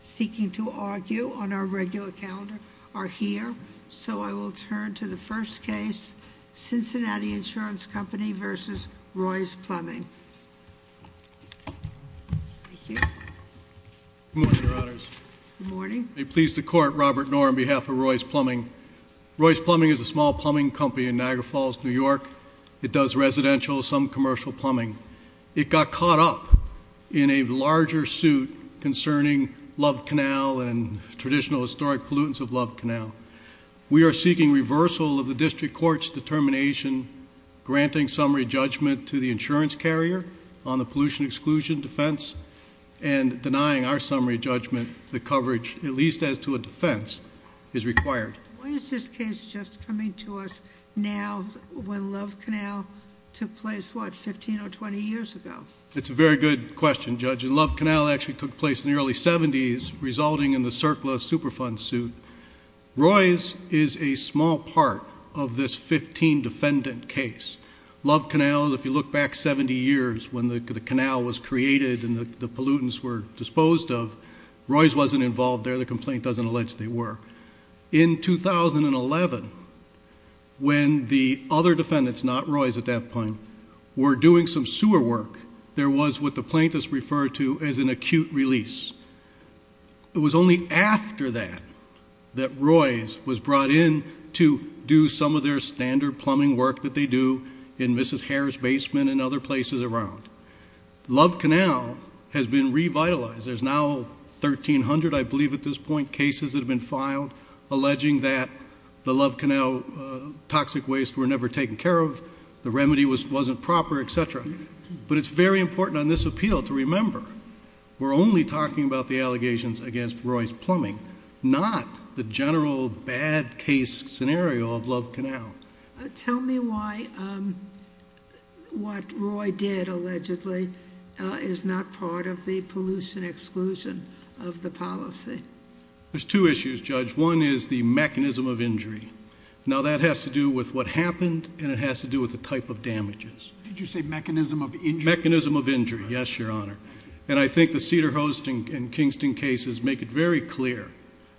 seeking to argue on our regular calendar are here. So I will turn to the first case, Cincinnati Insurance Company versus Roy's Plumbing. Thank you. Good morning, Your Honors. Good morning. May it please the Court, Robert Nohr on behalf of Roy's Plumbing. Roy's Plumbing is a small plumbing company in Niagara Falls, New York. It does residential, some commercial plumbing. It got caught up in a larger suit concerning Love Canal and traditional historic pollutants of Love Canal. We are seeking reversal of the district court's determination, granting summary judgment to the insurance carrier on the pollution exclusion defense. And denying our summary judgment the coverage, at least as to a defense, is required. Why is this case just coming to us now when Love Canal took place, what, 15 or 20 years ago? That's a very good question, Judge. And Love Canal actually took place in the early 70s, resulting in the Circla Superfund suit. Roy's is a small part of this 15 defendant case. Love Canal, if you look back 70 years, when the canal was created and the pollutants were disposed of, Roy's wasn't involved there. The complaint doesn't allege they were. In 2011, when the other defendants, not Roy's at that point, were doing some sewer work, there was what the plaintiffs referred to as an acute release. It was only after that that Roy's was brought in to do some of their standard plumbing work that they do in Mrs. Harris' basement and other places around. Love Canal has been revitalized. There's now 1,300, I believe at this point, cases that have been filed alleging that the Love Canal toxic waste were never taken care of, the remedy wasn't proper, etc. But it's very important on this appeal to remember we're only talking about the allegations against Roy's plumbing, not the general bad case scenario of Love Canal. Tell me why what Roy did, allegedly, is not part of the pollution exclusion of the policy. There's two issues, Judge. One is the mechanism of injury. Now, that has to do with what happened, and it has to do with the type of damages. Did you say mechanism of injury? Mechanism of injury, yes, Your Honor. And I think the Cedar Host and Kingston cases make it very clear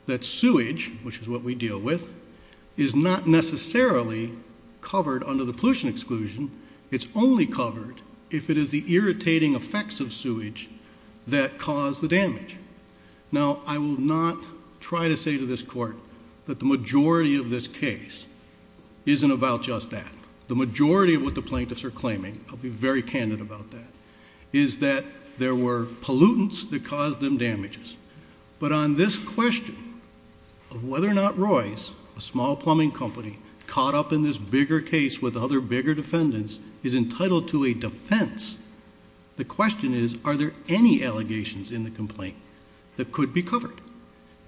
that sewage, which is what we deal with, is not necessarily covered under the pollution exclusion. It's only covered if it is the irritating effects of sewage that cause the damage. Now, I will not try to say to this Court that the majority of this case isn't about just that. The majority of what the plaintiffs are claiming, I'll be very candid about that, is that there were pollutants that caused them damages. But on this question of whether or not Roy's, a small plumbing company, caught up in this bigger case with other bigger defendants, is entitled to a defense, the question is, are there any allegations in the complaint that could be covered?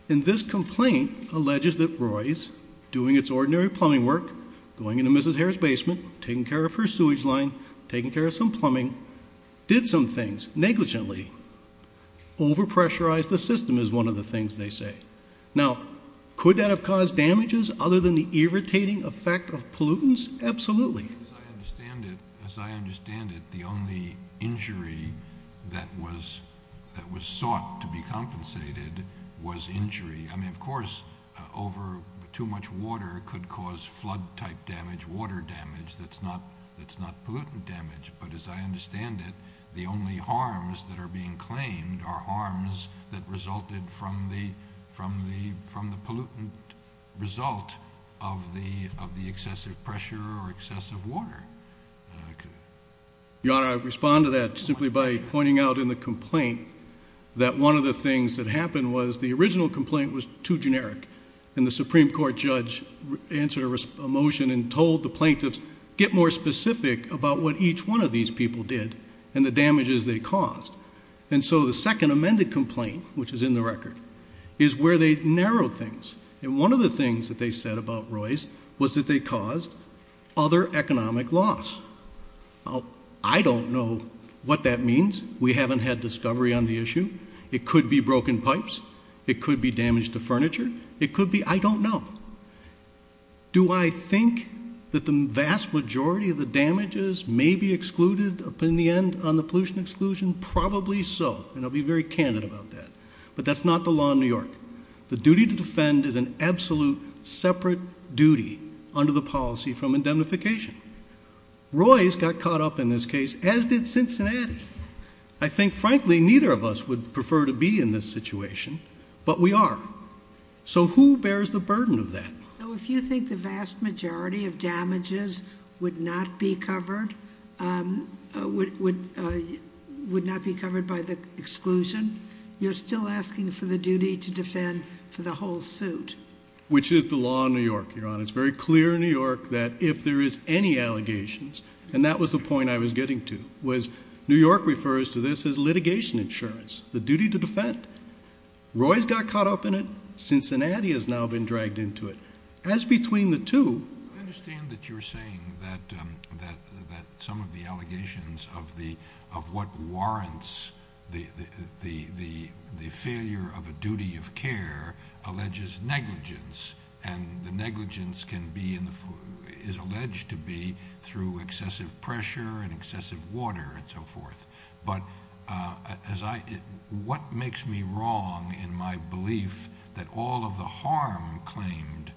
And this complaint alleges that Roy's, doing its ordinary plumbing work, going into Mrs. Harris' basement, taking care of her sewage line, taking care of some plumbing, did some things negligently, over-pressurized the system is one of the things they say. Now, could that have caused damages other than the irritating effect of pollutants? Absolutely. As I understand it, the only injury that was sought to be compensated was injury. I mean, of course, over too much water could cause flood-type damage, water damage that's not pollutant damage. But as I understand it, the only harms that are being claimed are harms that resulted from the pollutant result of the excessive pressure or excessive water. Your Honor, I respond to that simply by pointing out in the complaint that one of the things that happened was the original complaint was too generic, and the Supreme Court judge answered a motion and told the plaintiffs, get more specific about what each one of these people did and the damages they caused. And so the second amended complaint, which is in the record, is where they narrowed things. And one of the things that they said about Roy's was that they caused other economic loss. I don't know what that means. We haven't had discovery on the issue. It could be broken pipes. It could be damage to furniture. It could be, I don't know. Do I think that the vast majority of the damages may be excluded in the end on the pollution exclusion? Probably so, and I'll be very candid about that. But that's not the law in New York. The duty to defend is an absolute separate duty under the policy from indemnification. Roy's got caught up in this case, as did Cincinnati. I think, frankly, neither of us would prefer to be in this situation, but we are. So who bears the burden of that? So if you think the vast majority of damages would not be covered by the exclusion, you're still asking for the duty to defend for the whole suit. Which is the law in New York, Your Honor. It's very clear in New York that if there is any allegations, and that was the point I was getting to, was New York refers to this as litigation insurance, the duty to defend. Roy's got caught up in it. Cincinnati has now been dragged into it. As between the two. I understand that you're saying that some of the allegations of what warrants the failure of a duty of care alleges negligence, and the negligence is alleged to be through excessive pressure and excessive water and so forth. But what makes me wrong in my belief that all of the harm claimed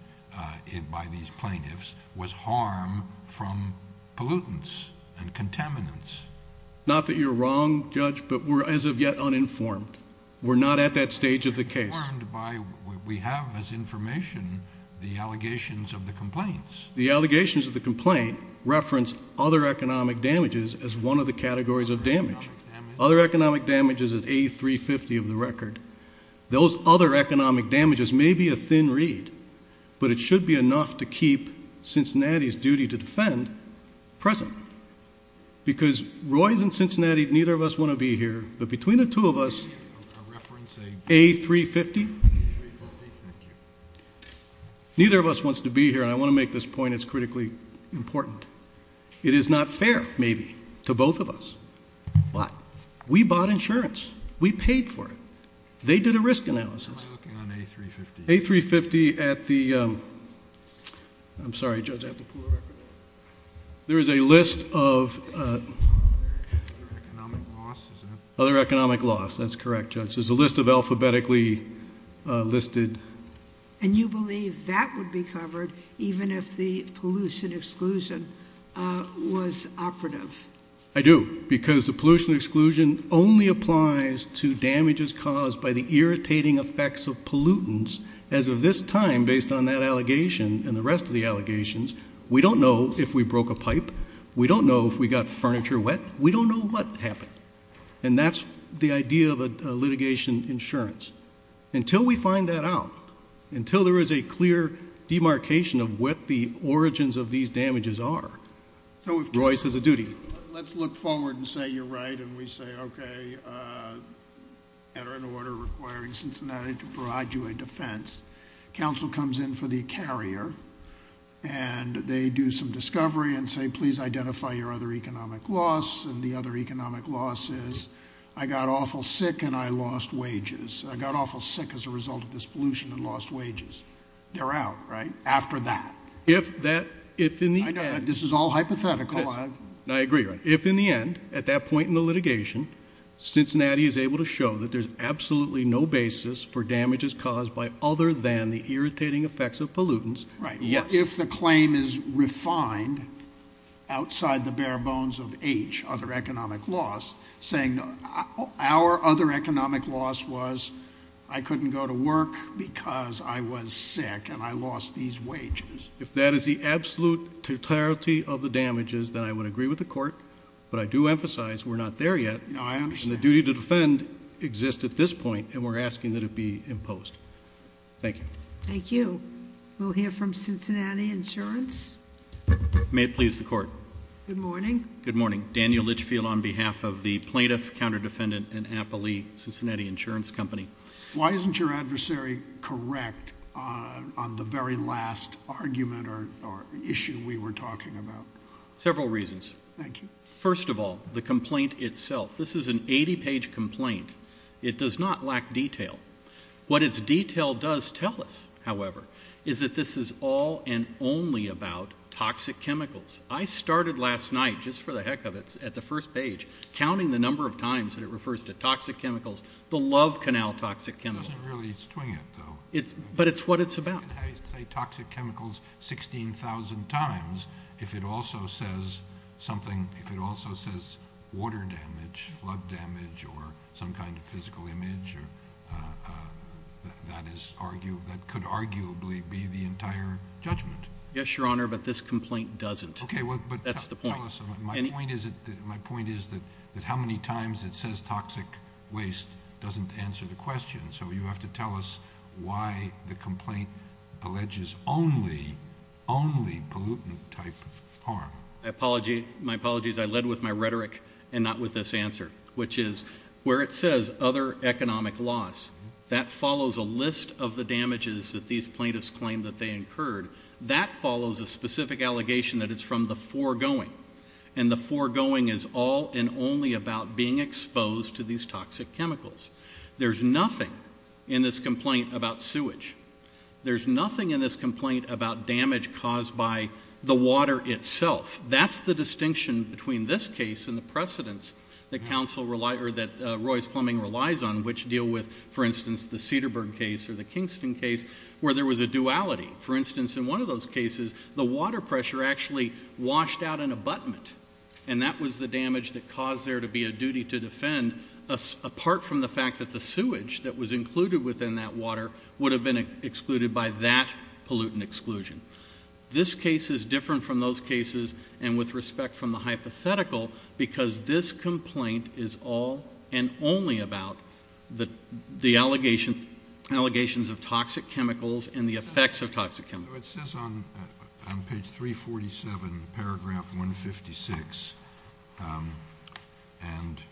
by these plaintiffs was harm from pollutants and contaminants? Not that you're wrong, Judge, but we're as of yet uninformed. We're not at that stage of the case. We have as information the allegations of the complaints. The allegations of the complaint reference other economic damages as one of the categories of damage. Other economic damages at A350 of the record. Those other economic damages may be a thin read. But it should be enough to keep Cincinnati's duty to defend present. Because Roy's in Cincinnati, neither of us want to be here. But between the two of us, A350? Neither of us wants to be here. And I want to make this point. It's critically important. It is not fair, maybe, to both of us. Why? We bought insurance. We paid for it. They did a risk analysis. I'm looking on A350. A350 at the, I'm sorry, Judge, I have to pull the record up. There is a list of- Other economic losses. Other economic loss. That's correct, Judge. There's a list of alphabetically listed- And you believe that would be covered even if the pollution exclusion was operative? I do. Because the pollution exclusion only applies to damages caused by the irritating effects of pollutants. As of this time, based on that allegation and the rest of the allegations, we don't know if we broke a pipe. We don't know if we got furniture wet. We don't know what happened. And that's the idea of a litigation insurance. Until we find that out, until there is a clear demarcation of what the origins of these damages are, Royce has a duty. Let's look forward and say you're right and we say, okay, enter an order requiring Cincinnati to provide you a defense. Counsel comes in for the carrier and they do some discovery and say, please identify your other economic loss. And the other economic loss is I got awful sick and I lost wages. I got awful sick as a result of this pollution and lost wages. They're out, right? After that. If that, if in the end- I know, but this is all hypothetical. I agree, Royce. If in the end, at that point in the litigation, Cincinnati is able to show that there's absolutely no basis for damages caused by other than the irritating effects of pollutants- Right. Yes. If the claim is refined outside the bare bones of H, other economic loss, saying our other economic loss was I couldn't go to work because I was sick and I lost these wages. If that is the absolute totality of the damages, then I would agree with the court. But I do emphasize we're not there yet. No, I understand. And the duty to defend exists at this point and we're asking that it be imposed. Thank you. Thank you. We'll hear from Cincinnati Insurance. May it please the court. Good morning. Good morning. Daniel Litchfield on behalf of the plaintiff, counter-defendant, and Appley Cincinnati Insurance Company. Why isn't your adversary correct on the very last argument or issue we were talking about? Several reasons. Thank you. First of all, the complaint itself. This is an 80-page complaint. It does not lack detail. What its detail does tell us, however, is that this is all and only about toxic chemicals. I started last night, just for the heck of it, at the first page, counting the number of times that it refers to toxic chemicals, the Love Canal toxic chemicals. It doesn't really swing it, though. But it's what it's about. You can say toxic chemicals 16,000 times if it also says water damage, flood damage, or some kind of physical image that could arguably be the entire judgment. Yes, Your Honor, but this complaint doesn't. That's the point. My point is that how many times it says toxic waste doesn't answer the question. So you have to tell us why the complaint alleges only, only pollutant-type harm. My apologies. I led with my rhetoric and not with this answer, which is where it says other economic loss, that follows a list of the damages that these plaintiffs claim that they incurred. That follows a specific allegation that it's from the foregoing, and the foregoing is all and only about being exposed to these toxic chemicals. There's nothing in this complaint about sewage. There's nothing in this complaint about damage caused by the water itself. That's the distinction between this case and the precedents that Roy's Plumbing relies on, which deal with, for instance, the Cedarburg case or the Kingston case, where there was a duality. For instance, in one of those cases, the water pressure actually washed out an abutment, and that was the damage that caused there to be a duty to defend, apart from the fact that the sewage that was included within that water would have been excluded by that pollutant exclusion. This case is different from those cases and with respect from the hypothetical because this complaint is all and only about the allegations of toxic chemicals and the effects of toxic chemicals. It says on page 347, paragraph 156, and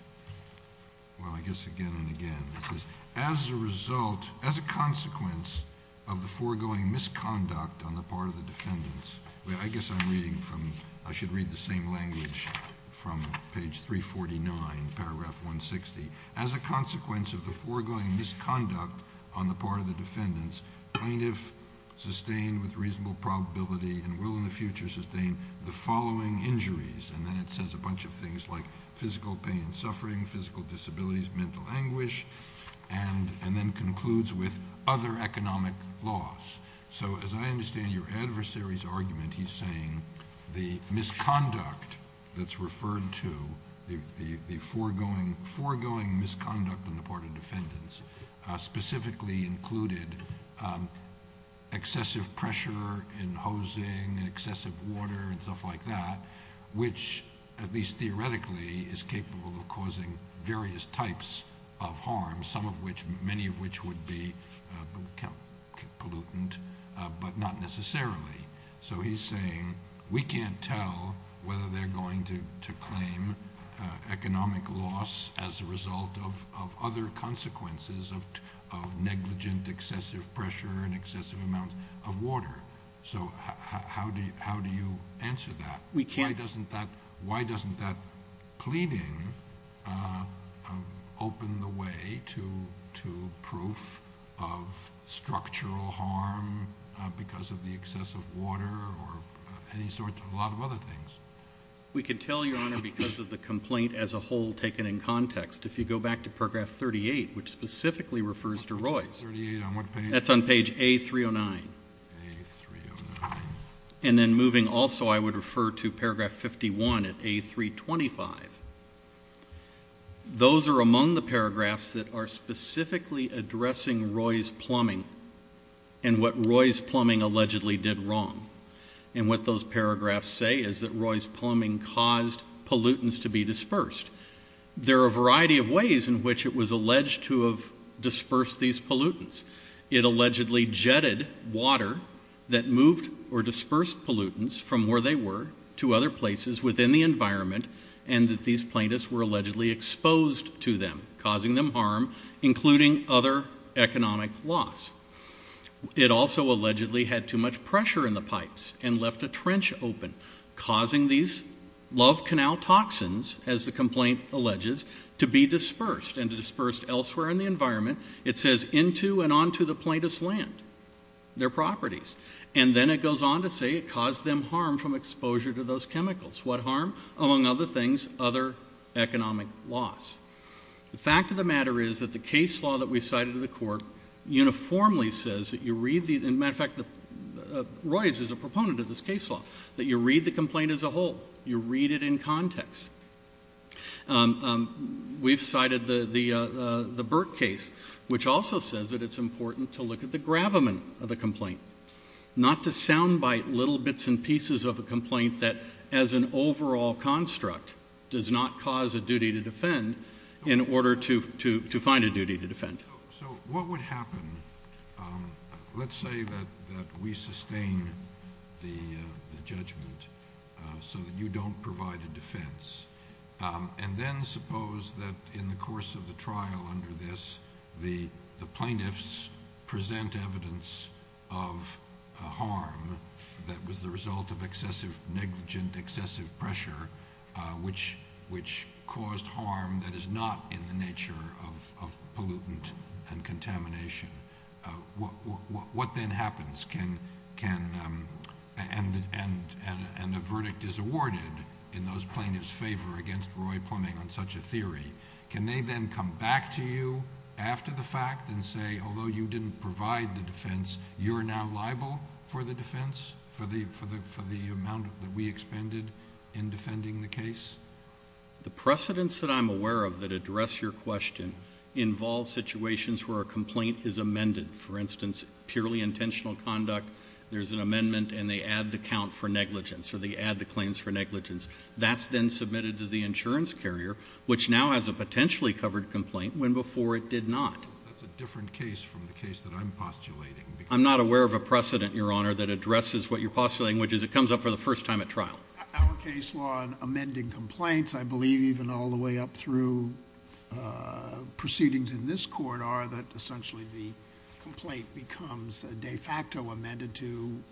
I guess again and again, it says, as a result, as a consequence of the foregoing misconduct on the part of the defendants... I guess I should read the same language from page 349, paragraph 160. As a consequence of the foregoing misconduct on the part of the defendants, plaintiff sustained with reasonable probability and will in the future sustain the following injuries, and then it says a bunch of things like physical pain and suffering, physical disabilities, mental anguish, and then concludes with other economic loss. So, as I understand your adversary's argument, he's saying the misconduct that's referred to, the foregoing misconduct on the part of defendants, specifically included excessive pressure in hosing, excessive water, and stuff like that, which at least theoretically is capable of causing various types of harm, some of which, many of which would be pollutant, but not necessarily. So, he's saying we can't tell whether they're going to claim economic loss as a result of other consequences of negligent excessive pressure and excessive amounts of water. So, how do you answer that? Why doesn't that pleading open the way to proof of structural harm because of the excessive water or any sort of a lot of other things? We can tell, Your Honor, because of the complaint as a whole taken in context. If you go back to paragraph 38, which specifically refers to Roy's. That's on page A309. And then moving also, I would refer to paragraph 51 at A325. Those are among the paragraphs that are specifically addressing Roy's plumbing and what Roy's plumbing allegedly did wrong. And what those paragraphs say is that Roy's plumbing caused pollutants to be dispersed. There are a variety of ways in which it was alleged to have dispersed these pollutants. It allegedly jetted water that moved or dispersed pollutants from where they were to other places within the environment and that these plaintiffs were allegedly exposed to them, causing them harm, including other economic loss. It also allegedly had too much pressure in the pipes and left a trench open, causing these love canal toxins, as the complaint alleges, to be dispersed and to disperse elsewhere in the environment. It says, into and onto the plaintiff's land, their properties. And then it goes on to say it caused them harm from exposure to those chemicals. What harm? Among other things, other economic loss. The fact of the matter is that the case law that we've cited to the court uniformly says that you read the— as a matter of fact, Roy's is a proponent of this case law—that you read the complaint as a whole. You read it in context. We've cited the Burke case, which also says that it's important to look at the gravamen of the complaint, not to soundbite little bits and pieces of a complaint that, as an overall construct, does not cause a duty to defend in order to find a duty to defend. So what would happen? Let's say that we sustain the judgment so that you don't provide a defense. And then suppose that in the course of the trial under this, the plaintiffs present evidence of harm that was the result of excessive, negligent, excessive pressure, which caused harm that is not in the nature of pollutant and contamination. What then happens? And a verdict is awarded in those plaintiffs' favor against Roy Plumbing on such a theory. Can they then come back to you after the fact and say, although you didn't provide the defense, you're now liable for the defense, for the amount that we expended in defending the case? The precedents that I'm aware of that address your question involve situations where a complaint is amended. For instance, purely intentional conduct, there's an amendment and they add the count for negligence or they add the claims for negligence. That's then submitted to the insurance carrier, which now has a potentially covered complaint when before it did not. That's a different case from the case that I'm postulating. I'm not aware of a precedent, Your Honor, that addresses what you're postulating, which is it comes up for the first time at trial. Our case law in amending complaints, I believe, and all the way up through proceedings in this court are that essentially the complaint becomes de facto amended to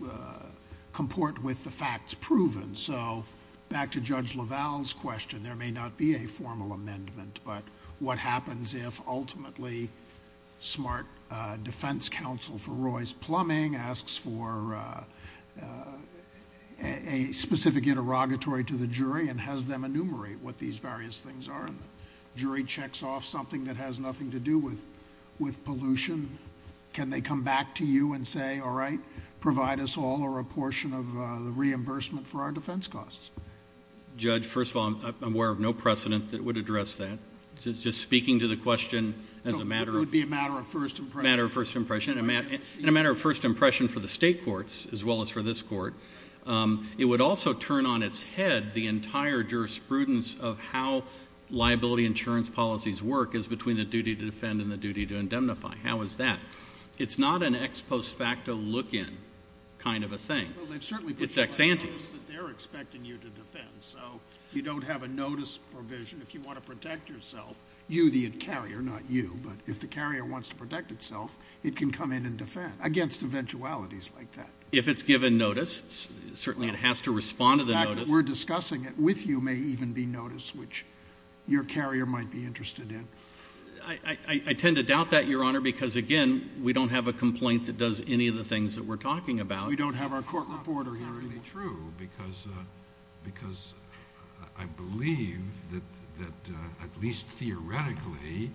comport with the facts proven. So back to Judge LaValle's question, there may not be a formal amendment, but what happens if ultimately smart defense counsel for Roy's Plumbing asks for a specific interrogatory to the jury and has them enumerate what these various things are and the jury checks off something that has nothing to do with pollution? Can they come back to you and say, all right, provide us all or a portion of the reimbursement for our defense costs? Judge, first of all, I'm aware of no precedent that would address that. Just speaking to the question as a matter of first impression. In a matter of first impression for the state courts as well as for this court, it would also turn on its head the entire jurisprudence of how liability insurance policies work is between the duty to defend and the duty to indemnify. How is that? It's not an ex post facto look in kind of a thing. It's ex ante. It's just that they're expecting you to defend, so you don't have a notice provision. If you want to protect yourself, you the carrier, not you, but if the carrier wants to protect itself, it can come in and defend against eventualities like that. If it's given notice, certainly it has to respond to the notice. The fact that we're discussing it with you may even be notice, which your carrier might be interested in. I tend to doubt that, Your Honor, because, again, we don't have a complaint that does any of the things that we're talking about. We don't have our court reporter here either. It's not exactly true because I believe that at least theoretically,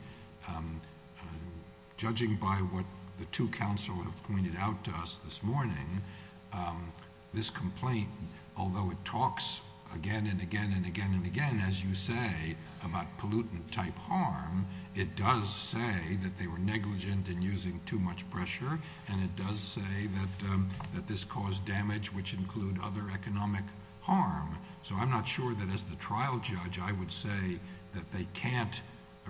judging by what the two counsel have pointed out to us this morning, this complaint, although it talks again and again and again and again, as you say, about pollutant-type harm, it does say that they were negligent in using too much pressure, and it does say that this caused damage, which include other economic harm. So I'm not sure that as the trial judge, I would say that they can't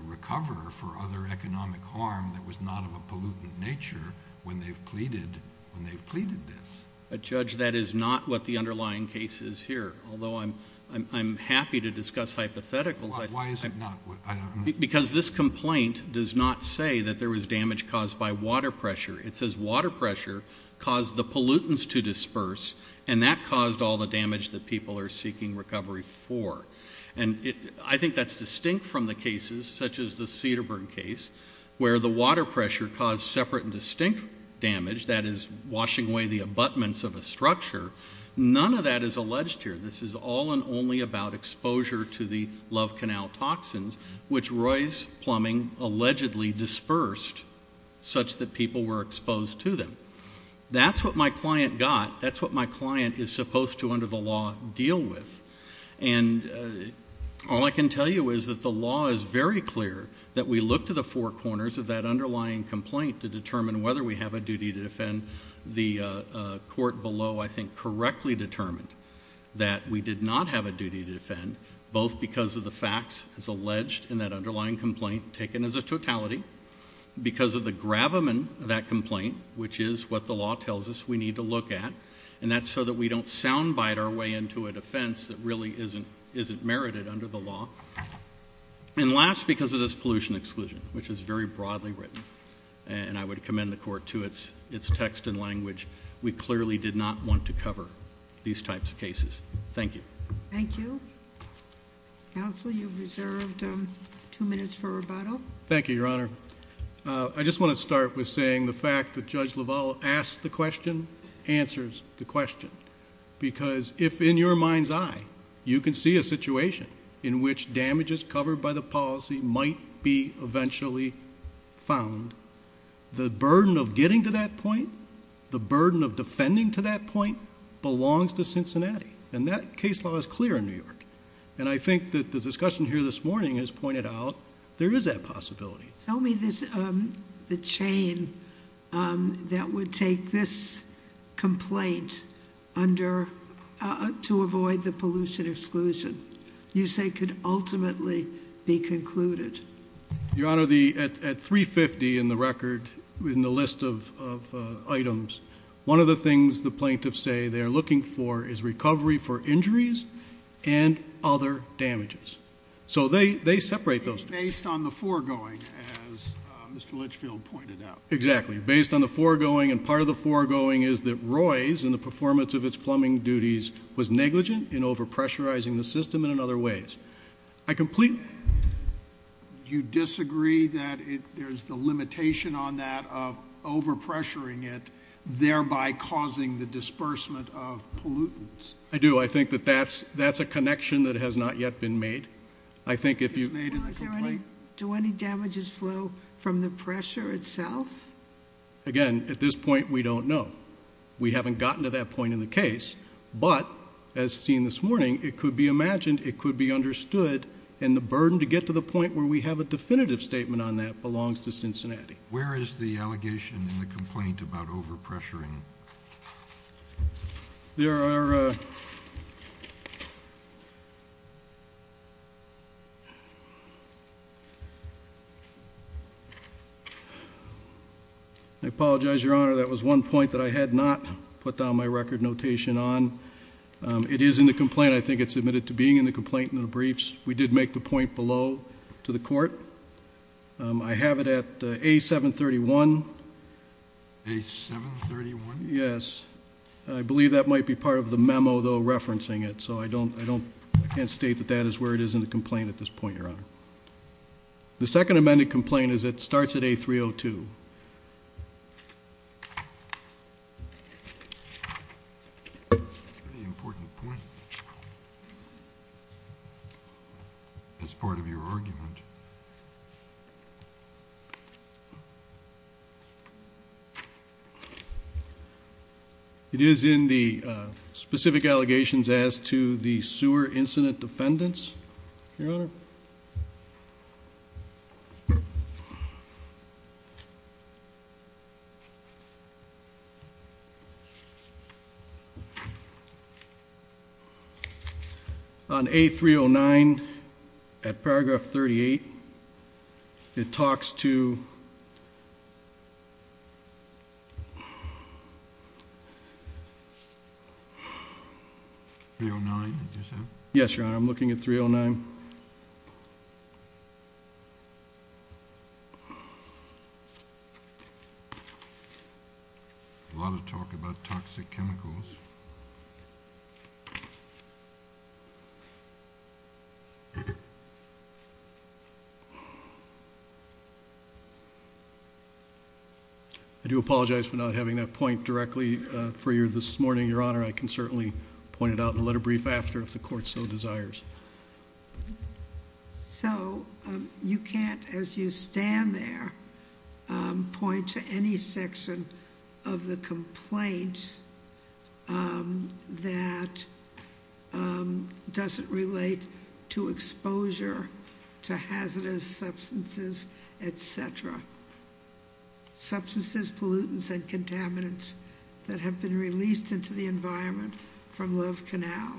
recover for other economic harm that was not of a pollutant nature when they've pleaded this. Judge, that is not what the underlying case is here, although I'm happy to discuss hypotheticals. Why is it not? Because this complaint does not say that there was damage caused by water pressure. It says water pressure caused the pollutants to disperse, and that caused all the damage that people are seeking recovery for. And I think that's distinct from the cases, such as the Cedarburg case, where the water pressure caused separate and distinct damage, that is, washing away the abutments of a structure. None of that is alleged here. This is all and only about exposure to the Love Canal toxins, which Roy's Plumbing allegedly dispersed such that people were exposed to them. That's what my client got. That's what my client is supposed to, under the law, deal with. And all I can tell you is that the law is very clear, that we look to the four corners of that underlying complaint to determine whether we have a duty to defend the court below, I think, and we have correctly determined that we did not have a duty to defend, both because of the facts as alleged in that underlying complaint, taken as a totality, because of the gravamen of that complaint, which is what the law tells us we need to look at, and that's so that we don't soundbite our way into a defense that really isn't merited under the law, and last, because of this pollution exclusion, which is very broadly written, and I would commend the court to its text and language, we clearly did not want to cover these types of cases. Thank you. Thank you. Counsel, you've reserved two minutes for rebuttal. Thank you, Your Honor. I just want to start with saying the fact that Judge LaValle asked the question answers the question, because if in your mind's eye you can see a situation in which damages covered by the policy might be eventually found, the burden of getting to that point, the burden of defending to that point, belongs to Cincinnati, and that case law is clear in New York, and I think that the discussion here this morning has pointed out there is that possibility. Tell me the chain that would take this complaint to avoid the pollution exclusion, you say could ultimately be concluded. Your Honor, at 350 in the record, in the list of items, one of the things the plaintiffs say they are looking for is recovery for injuries and other damages. So they separate those two. Based on the foregoing, as Mr. Litchfield pointed out. Exactly, based on the foregoing, and part of the foregoing is that Roy's in the performance of its plumbing duties was negligent in overpressurizing the system and in other ways. Do you disagree that there's the limitation on that of overpressuring it, thereby causing the disbursement of pollutants? I do. I think that that's a connection that has not yet been made. Do any damages flow from the pressure itself? Again, at this point we don't know. We haven't gotten to that point in the case, but as seen this morning, it could be imagined, it could be understood, and the burden to get to the point where we have a definitive statement on that belongs to Cincinnati. Where is the allegation in the complaint about overpressuring? There are... I apologize, Your Honor. That was one point that I had not put down my record notation on. It is in the complaint. I think it's admitted to being in the complaint in the briefs. We did make the point below to the court. I have it at A731. A731? Yes. I believe that might be part of the memo, though, referencing it. I can't state that that is where it is in the complaint at this point, Your Honor. The second amended complaint starts at A302. That's a pretty important point. That's part of your argument. It is in the specific allegations as to the sewer incident defendants, Your Honor. On A309, at paragraph 38, it talks to... 309, did you say? Yes, Your Honor. I'm looking at 309. A lot of talk about toxic chemicals. I do apologize for not having that point directly for you this morning, Your Honor. I can certainly point it out in a letter brief after if the court so desires. You can't, as you stand there, point to any section of the complaint that doesn't relate to exposure to hazardous substances, etc. Substances, pollutants, and contaminants that have been released into the environment from Love Canal.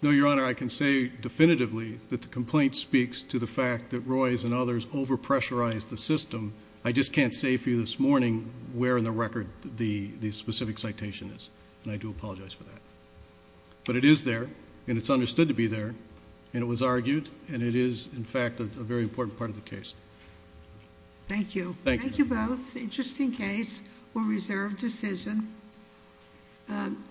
No, Your Honor. I can say definitively that the complaint speaks to the fact that Roy's and others over-pressurized the system. I just can't say for you this morning where in the record the specific citation is, and I do apologize for that. But it is there, and it's understood to be there, and it was argued, and it is, in fact, a very important part of the case. Thank you. Thank you both. Interesting case. We'll reserve decision.